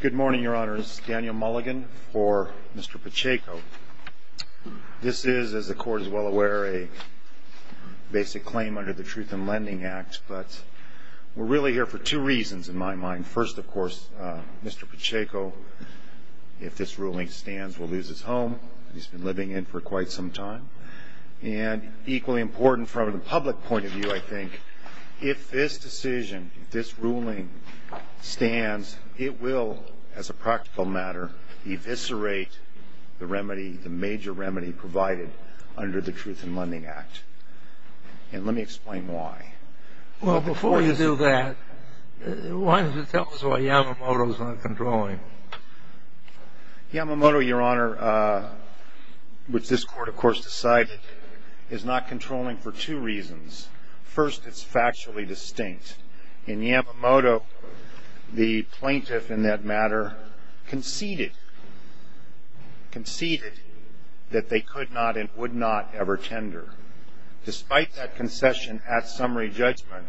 Good morning, Your Honors. Daniel Mulligan for Mr. Pacheco. This is, as the Court is well aware, a basic claim under the Truth in Lending Act, but we're really here for two reasons, in my mind. First, of course, Mr. Pacheco, if this ruling stands, will lose his home. He's been living in for quite some time. And equally important from the public point of view, I think, if this decision, if this ruling stands, it will, as a practical matter, eviscerate the major remedy provided under the Truth in Lending Act. And let me explain why. Well, before you do that, why don't you tell us why Yamamoto is not controlling? Yamamoto, Your Honor, which this Court, of course, decided, is not controlling for two reasons. First, it's factually distinct. In Yamamoto, the plaintiff, in that matter, conceded that they could not and would not ever tender. Despite that concession at summary judgment,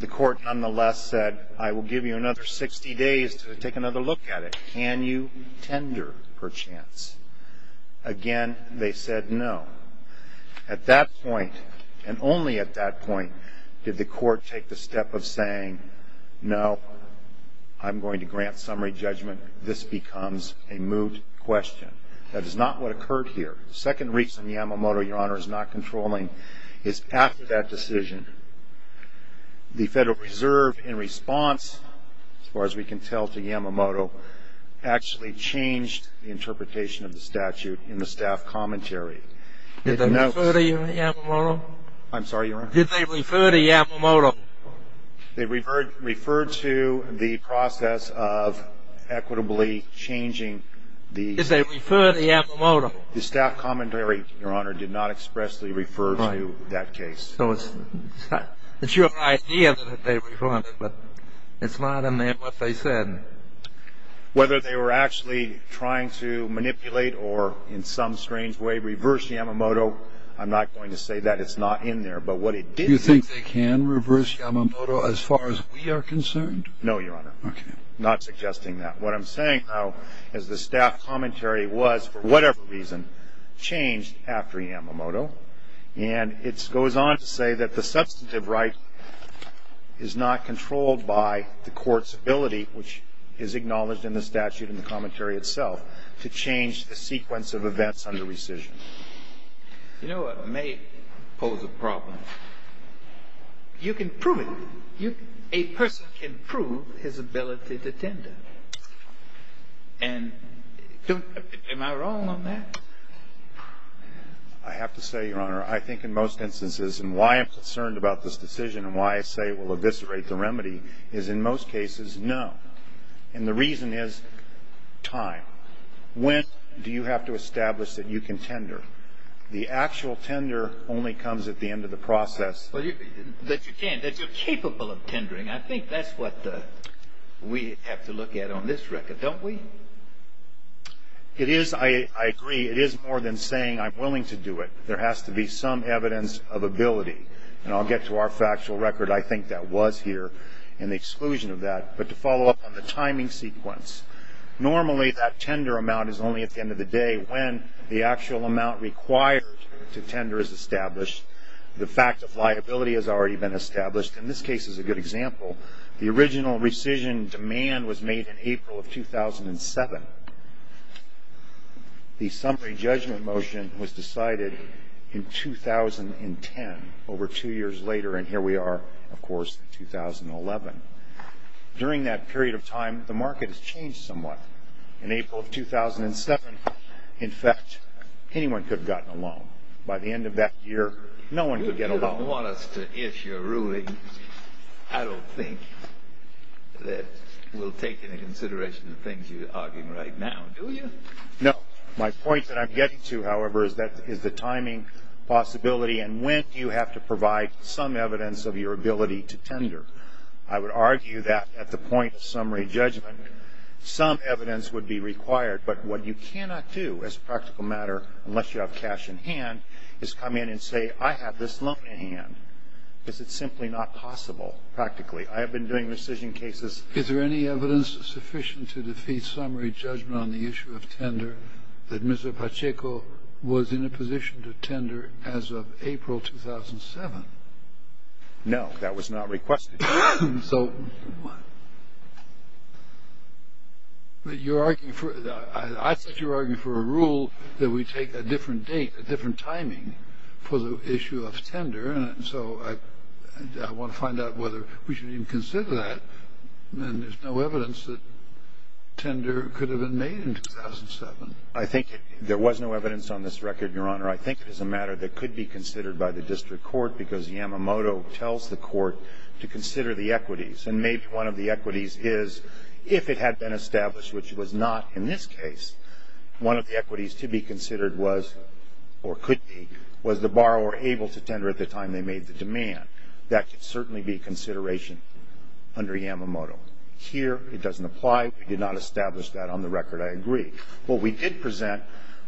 the Court, nonetheless, said, I will give you another 60 days to take another look at it. Can you tender, perchance? Again, they said no. At that point, and only at that point, did the Court take the step of saying, no, I'm going to grant summary judgment. This becomes a moot question. That is not what occurred here. The second reason Yamamoto, Your Honor, is not controlling is after that decision, the Federal Reserve, in response, as far as we can tell to Yamamoto, actually changed the interpretation of the statute in the staff commentary. Did they refer to Yamamoto? I'm sorry, Your Honor? Did they refer to Yamamoto? They referred to the process of equitably changing the- Did they refer to Yamamoto? The staff commentary, Your Honor, did not expressly refer to that case. So it's your idea that they referred, but it's not in there what they said. Whether they were actually trying to manipulate or, in some strange way, reverse Yamamoto, I'm not going to say that. It's not in there. But what it did- Do you think they can reverse Yamamoto as far as we are concerned? No, Your Honor. Okay. Not suggesting that. What I'm saying, though, is the staff commentary was, for whatever reason, changed after Yamamoto, and it goes on to say that the substantive right is not controlled by the court's ability, which is acknowledged in the statute in the commentary itself, to change the sequence of events under rescission. You know what may pose a problem? You can prove it. A person can prove his ability to tender. And don't- am I wrong on that? I have to say, Your Honor, I think in most instances, and why I'm concerned about this decision and why I say it will eviscerate the remedy, is in most cases, no. And the reason is time. When do you have to establish that you can tender? The actual tender only comes at the end of the process. That you can, that you're capable of tendering. I think that's what we have to look at on this record, don't we? It is, I agree, it is more than saying I'm willing to do it. There has to be some evidence of ability. And I'll get to our factual record. I think that was here in the exclusion of that. But to follow up on the timing sequence, normally that tender amount is only at the end of the day when the actual amount required to tender is established. The fact of liability has already been established. And this case is a good example. The original rescission demand was made in April of 2007. The summary judgment motion was decided in 2010, over two years later. And here we are, of course, in 2011. During that period of time, the market has changed somewhat. In April of 2007, in fact, anyone could have gotten a loan. By the end of that year, no one could get a loan. I don't want us to issue a ruling. I don't think that we'll take into consideration the things you're arguing right now, do you? No. My point that I'm getting to, however, is the timing possibility and when you have to provide some evidence of your ability to tender. I would argue that at the point of summary judgment, some evidence would be required. But what you cannot do as a practical matter, unless you have cash in hand, is come in and say, I have this loan in hand. Because it's simply not possible, practically. I have been doing rescission cases. Is there any evidence sufficient to defeat summary judgment on the issue of tender that Mr. Pacheco was in a position to tender as of April 2007? No, that was not requested. So I think you're arguing for a rule that we take a different date, a different timing for the issue of tender. And so I want to find out whether we should even consider that. And there's no evidence that tender could have been made in 2007. I think there was no evidence on this record, Your Honor. I think it is a matter that could be considered by the district court because Yamamoto tells the court to consider the equities. And maybe one of the equities is, if it had been established, which it was not in this case, one of the equities to be considered was, or could be, was the borrower able to tender at the time they made the demand. That could certainly be a consideration under Yamamoto. Here, it doesn't apply. We did not establish that on the record. I agree. What we did present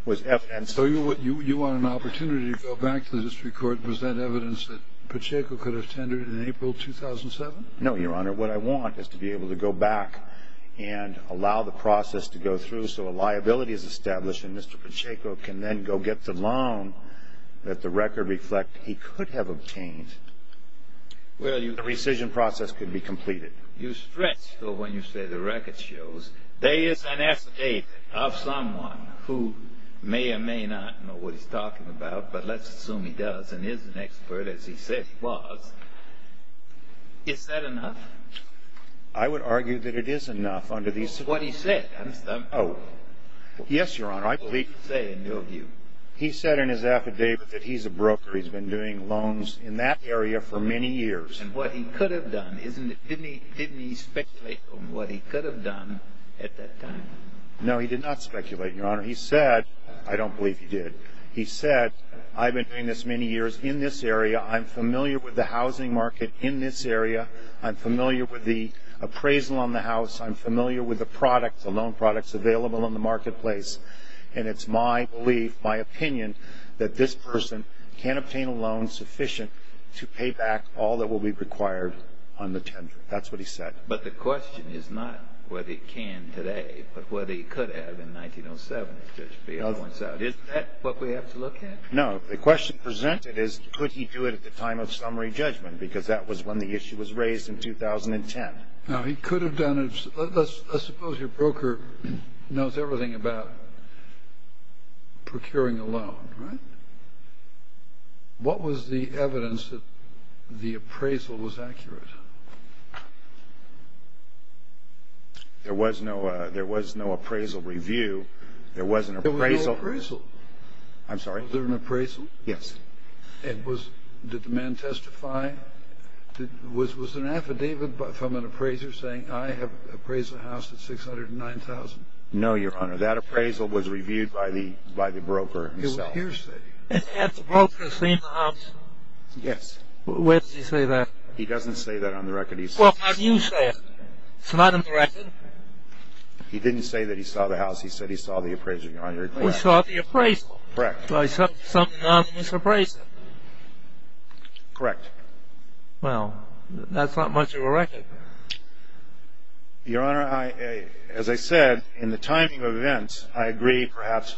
was evidence. So you want an opportunity to go back to the district court and present evidence that Pacheco could have tendered in April 2007? No, Your Honor. What I want is to be able to go back and allow the process to go through so a liability is established and Mr. Pacheco can then go get the loan that the record reflects he could have obtained. The rescission process could be completed. You stress, though, when you say the record shows, there is an affidavit of someone who may or may not know what he's talking about, but let's assume he does and is an expert, as he said he was. Is that enough? I would argue that it is enough under these circumstances. What he said, understand? Yes, Your Honor. What did he say in your view? He said in his affidavit that he's a broker. He's been doing loans in that area for many years. And what he could have done, didn't he speculate on what he could have done at that time? No, he did not speculate, Your Honor. He said, I don't believe he did, he said, I've been doing this many years in this area. I'm familiar with the housing market in this area. I'm familiar with the appraisal on the house. I'm familiar with the products, the loan products available in the marketplace, and it's my belief, my opinion, that this person can obtain a loan sufficient to pay back all that will be required on the tender. That's what he said. But the question is not whether he can today, but whether he could have in 1907, as Judge Fiala points out. Is that what we have to look at? No. The question presented is, could he do it at the time of summary judgment? Because that was when the issue was raised in 2010. Now, he could have done it. Let's suppose your broker knows everything about procuring a loan, right? What was the evidence that the appraisal was accurate? There was no appraisal review. There was no appraisal. I'm sorry? Was there an appraisal? Yes. Did the man testify? Was there an affidavit from an appraiser saying, I have an appraisal house at $609,000? No, Your Honor. That appraisal was reviewed by the broker himself. Had the broker seen the house? Yes. Where did he say that? He doesn't say that on the record. Well, how do you say it? It's not on the record. He didn't say that he saw the house. He said he saw the appraisal. He saw the appraisal. Correct. He saw something on this appraisal. Correct. Well, that's not much of a record. Your Honor, as I said, in the timing of events, I agree perhaps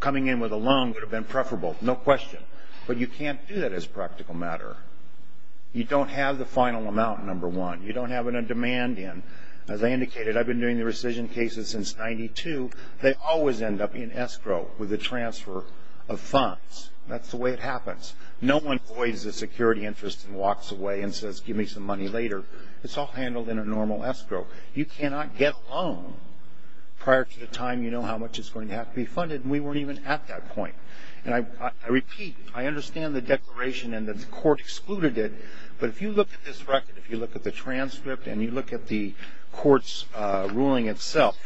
coming in with a loan would have been preferable. No question. But you can't do that as practical matter. You don't have the final amount, number one. You don't have a demand in. As I indicated, I've been doing the rescission cases since 1992. They always end up in escrow with a transfer of funds. That's the way it happens. No one voids a security interest and walks away and says, give me some money later. It's all handled in a normal escrow. You cannot get a loan prior to the time you know how much is going to have to be funded, and we weren't even at that point. And I repeat, I understand the declaration and that the court excluded it, but if you look at this record, if you look at the transcript and you look at the court's ruling itself,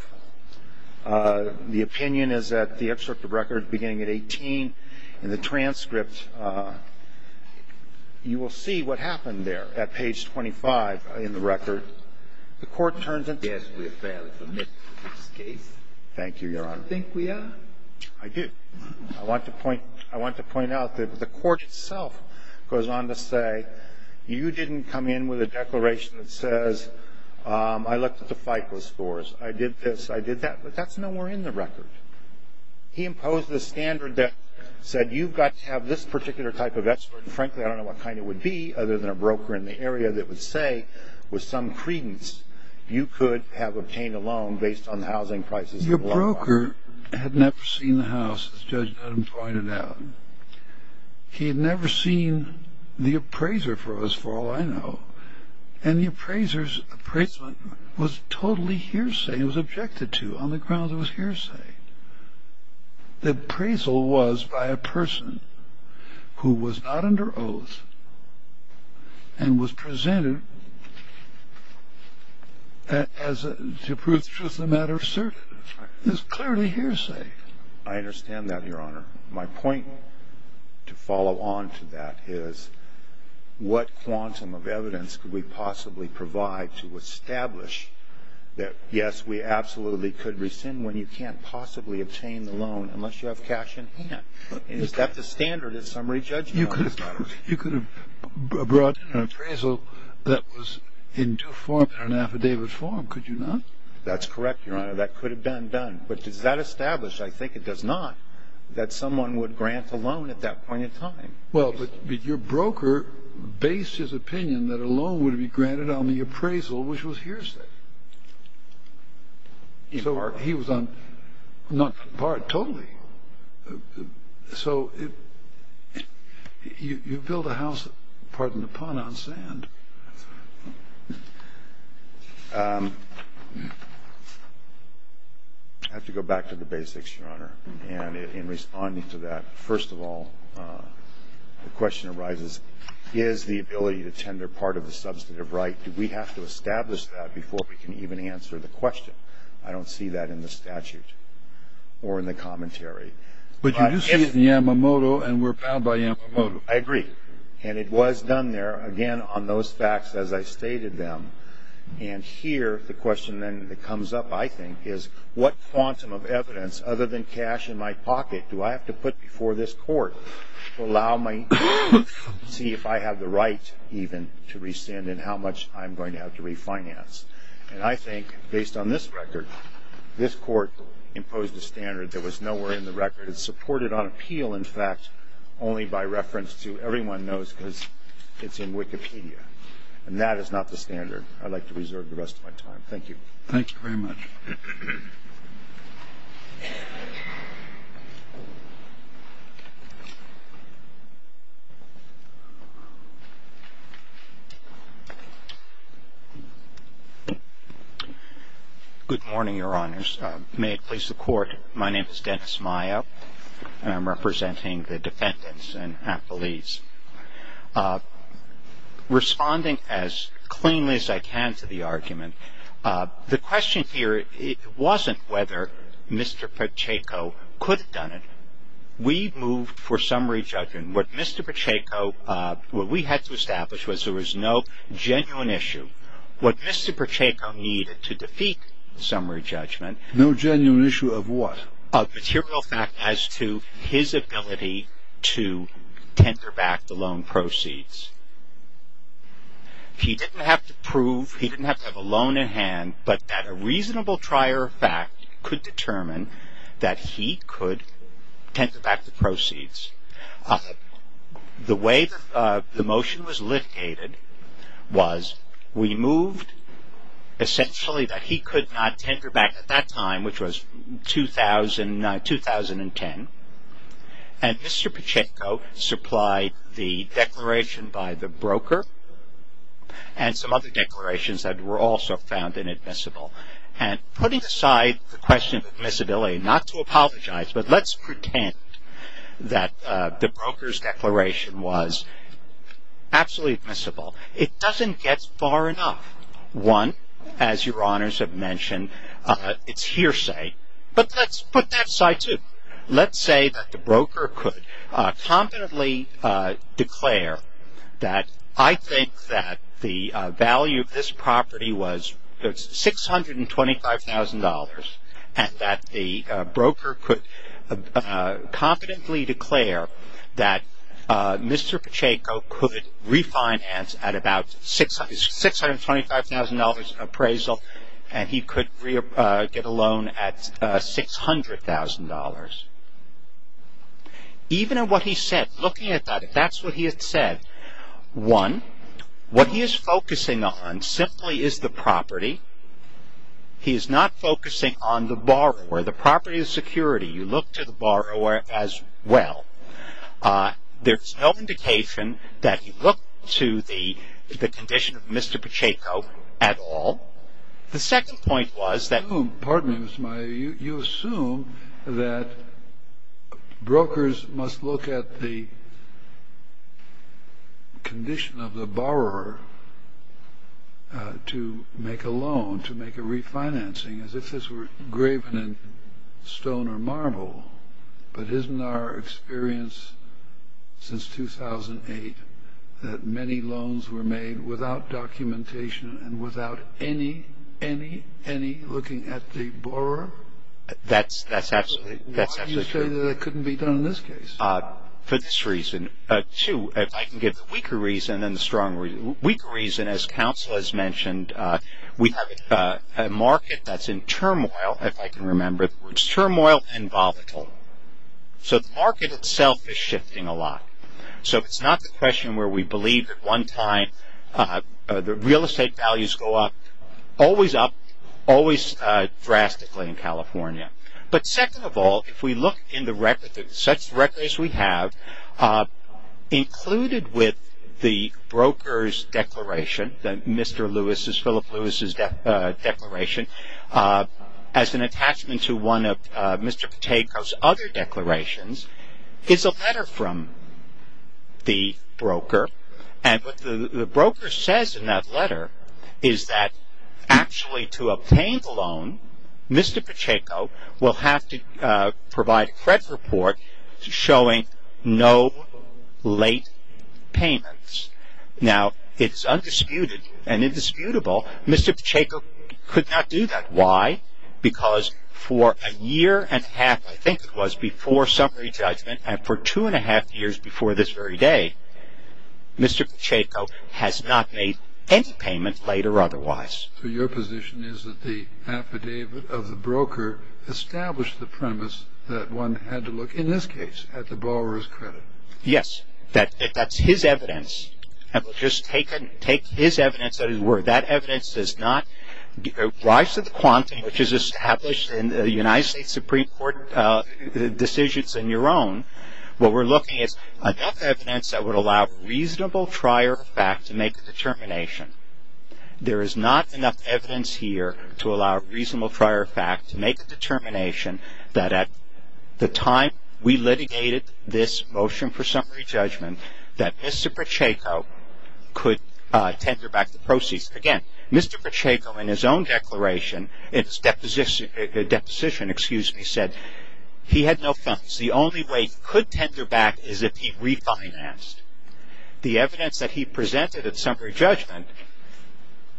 the opinion is that the excerpt of record beginning at 18 and the transcript, you will see what happened there at page 25 in the record. The court turns and says we're fairly familiar with this case. Thank you, Your Honor. Do you think we are? I do. I want to point out that the court itself goes on to say, you didn't come in with a declaration that says I looked at the FICO scores. I did this. I did that. But that's nowhere in the record. He imposed this standard that said you've got to have this particular type of expert. Frankly, I don't know what kind it would be other than a broker in the area that would say with some credence you could have obtained a loan based on housing prices. Your broker had never seen the house, as Judge Dunham pointed out. He had never seen the appraiser for all I know, and the appraiser's appraisal was totally hearsay. It was objected to on the grounds it was hearsay. The appraisal was by a person who was not under oath and was presented to prove truth of the matter asserted. It was clearly hearsay. I understand that, Your Honor. My point to follow on to that is what quantum of evidence could we possibly provide to establish that, yes, we absolutely could rescind when you can't possibly obtain the loan unless you have cash in hand? Is that the standard of summary judgment? You could have brought in an appraisal that was in due form in an affidavit form. Could you not? That's correct, Your Honor. That could have been done. But does that establish, I think it does not, that someone would grant a loan at that point in time? Well, but your broker based his opinion that a loan would be granted on the appraisal, which was hearsay. In part. He was on, not in part, totally. So you build a house, pardon the pun, on sand. And in responding to that, first of all, the question arises, is the ability to tender part of the substantive right, do we have to establish that before we can even answer the question? I don't see that in the statute or in the commentary. But you do see it in Yamamoto, and we're bound by Yamamoto. I agree. And it was done there, again, on those facts as I stated them. And here the question then that comes up, I think, is what quantum of evidence other than cash in my pocket do I have to put before this court to allow me to see if I have the right even to rescind and how much I'm going to have to refinance? And I think, based on this record, this court imposed a standard that was nowhere in the record. It's supported on appeal, in fact, only by reference to everyone knows because it's in Wikipedia. And that is not the standard I'd like to reserve the rest of my time. Thank you. Thank you very much. Good morning, Your Honors. May it please the Court, my name is Dennis Mayo, and I'm representing the defendants and affiliates. Responding as cleanly as I can to the argument, the question here wasn't whether Mr. Pacheco could have done it. We moved for summary judgment. What Mr. Pacheco, what we had to establish was there was no genuine issue. What Mr. Pacheco needed to defeat summary judgment. No genuine issue of what? Of material fact as to his ability to tender back the loan proceeds. He didn't have to prove, he didn't have to have a loan in hand, but that a reasonable trier of fact could determine that he could tender back the proceeds. The way the motion was litigated was we moved essentially that he could not tender back, at that time, which was 2010, and Mr. Pacheco supplied the declaration by the broker and some other declarations that were also found inadmissible. And putting aside the question of admissibility, not to apologize, but let's pretend that the broker's declaration was absolutely admissible. It doesn't get far enough. One, as your honors have mentioned, it's hearsay, but let's put that aside too. Let's say that the broker could competently declare that I think that the value of this property was $625,000 and that the broker could competently declare that Mr. Pacheco could refinance at about $625,000 appraisal and he could get a loan at $600,000. Even in what he said, looking at that, if that's what he had said, one, what he is focusing on simply is the property. He is not focusing on the borrower. The property is security. You look to the borrower as well. There's no indication that he looked to the condition of Mr. Pacheco at all. The second point was that you assume that brokers must look at the condition of the borrower to make a loan, to make a refinancing as if this were graven in stone or marble. But isn't our experience since 2008 that many loans were made without documentation and without any, any, any looking at the borrower? That's absolutely true. Why do you say that it couldn't be done in this case? For this reason. Two, if I can give the weaker reason and the strong reason. The weaker reason, as counsel has mentioned, we have a market that's in turmoil, if I can remember the words, turmoil and volatile. So the market itself is shifting a lot. So it's not the question where we believe at one time the real estate values go up, always up, always drastically in California. But second of all, if we look in the record, such records we have included with the broker's declaration, Mr. Lewis's, Philip Lewis's declaration, as an attachment to one of Mr. Pacheco's other declarations, is a letter from the broker. And what the broker says in that letter is that actually to obtain the loan, Mr. Pacheco will have to provide a credit report showing no late payments. Now, it's undisputed and indisputable Mr. Pacheco could not do that. Why? Because for a year and a half, I think it was, before summary judgment, and for two and a half years before this very day, Mr. Pacheco has not made any payment late or otherwise. So your position is that the affidavit of the broker established the premise that one had to look, in this case, at the borrower's credit. Yes. That's his evidence. And we'll just take his evidence at his word. That evidence does not rise to the quantum, which is established in the United States Supreme Court decisions in your own. What we're looking at is enough evidence that would allow reasonable prior fact to make a determination. There is not enough evidence here to allow reasonable prior fact to make a determination that at the time we litigated this motion for summary judgment, that Mr. Pacheco could tender back the proceeds. Again, Mr. Pacheco in his own declaration, in his deposition, excuse me, said he had no funds. The only way he could tender back is if he refinanced. The evidence that he presented at summary judgment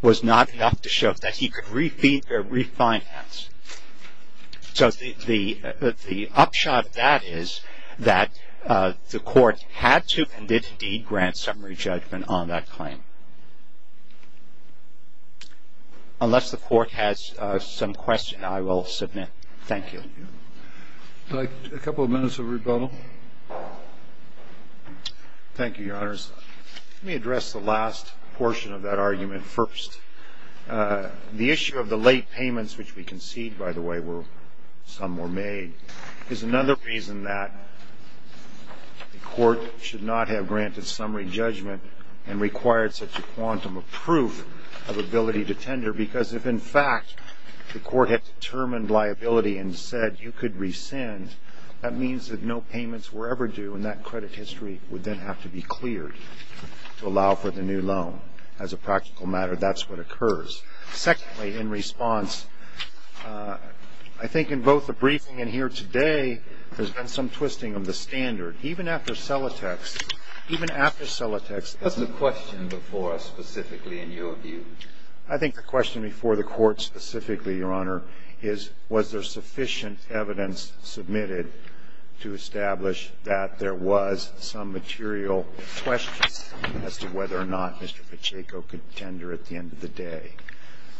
was not enough to show that he could refinance. So the upshot of that is that the Court had to and did indeed grant summary judgment on that claim. Unless the Court has some questions, I will submit. Thank you. I'd like a couple of minutes of rebuttal. Thank you, Your Honors. Let me address the last portion of that argument first. The issue of the late payments, which we concede, by the way, some were made, is another reason that the Court should not have granted summary judgment and required such a quantum of proof of ability to tender, because if, in fact, the Court had determined liability and said you could rescind, that means that no payments were ever due, and that credit history would then have to be cleared to allow for the new loan. As a practical matter, that's what occurs. Secondly, in response, I think in both the briefing and here today, there's been some twisting of the standard. Even after Celotex, even after Celotex. What's the question before us specifically in your view? I think the question before the Court specifically, Your Honor, is was there sufficient evidence submitted to establish that there was some material questions as to whether or not Mr. Pacheco could tender at the end of the day.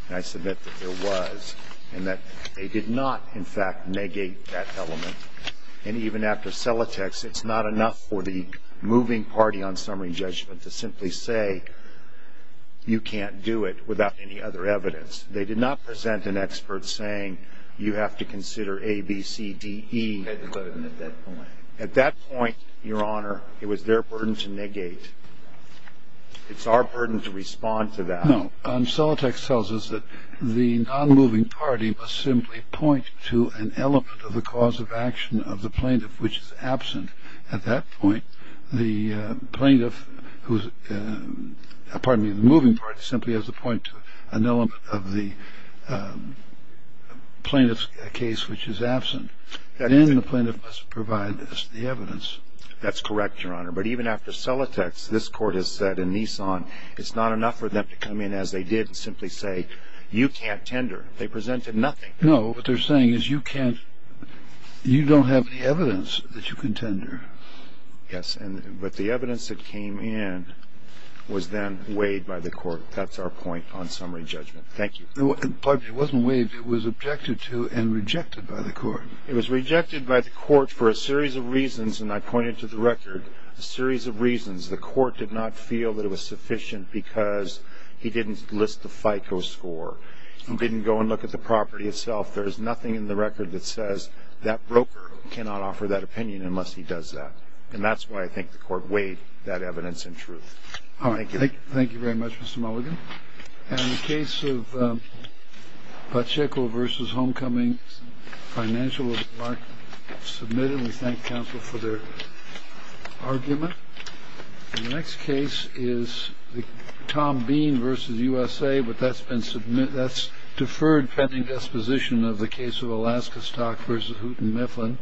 And I submit that there was and that they did not, in fact, negate that element. And even after Celotex, it's not enough for the moving party on summary judgment to simply say you can't do it without any other evidence. They did not present an expert saying you have to consider A, B, C, D, E. At that point, Your Honor, it was their burden to negate. It's our burden to respond to that. No. Celotex tells us that the non-moving party must simply point to an element of the cause of action of the plaintiff which is absent. At that point, the plaintiff who's – pardon me, the moving party simply has to point to an element of the plaintiff's case which is absent. Then the plaintiff must provide the evidence. That's correct, Your Honor. But even after Celotex, this court has said in Nissan it's not enough for them to come in as they did and simply say you can't tender. They presented nothing. No. What they're saying is you can't – you don't have any evidence that you can tender. Yes. But the evidence that came in was then weighed by the court. That's our point on summary judgment. Thank you. Pardon me. It wasn't weighed. It was objected to and rejected by the court. It was rejected by the court for a series of reasons, and I pointed to the record a series of reasons. The court did not feel that it was sufficient because he didn't list the FICO score. He didn't go and look at the property itself. There's nothing in the record that says that broker cannot offer that opinion unless he does that. And that's why I think the court weighed that evidence in truth. All right. Thank you. Thank you very much, Mr. Mulligan. In the case of Pacheco v. Homecoming, financial was not submitted. We thank counsel for their argument. The next case is the Tom Bean v. USA, but that's deferred pending disposition of the case of Alaska Stock v. Houghton Mifflin.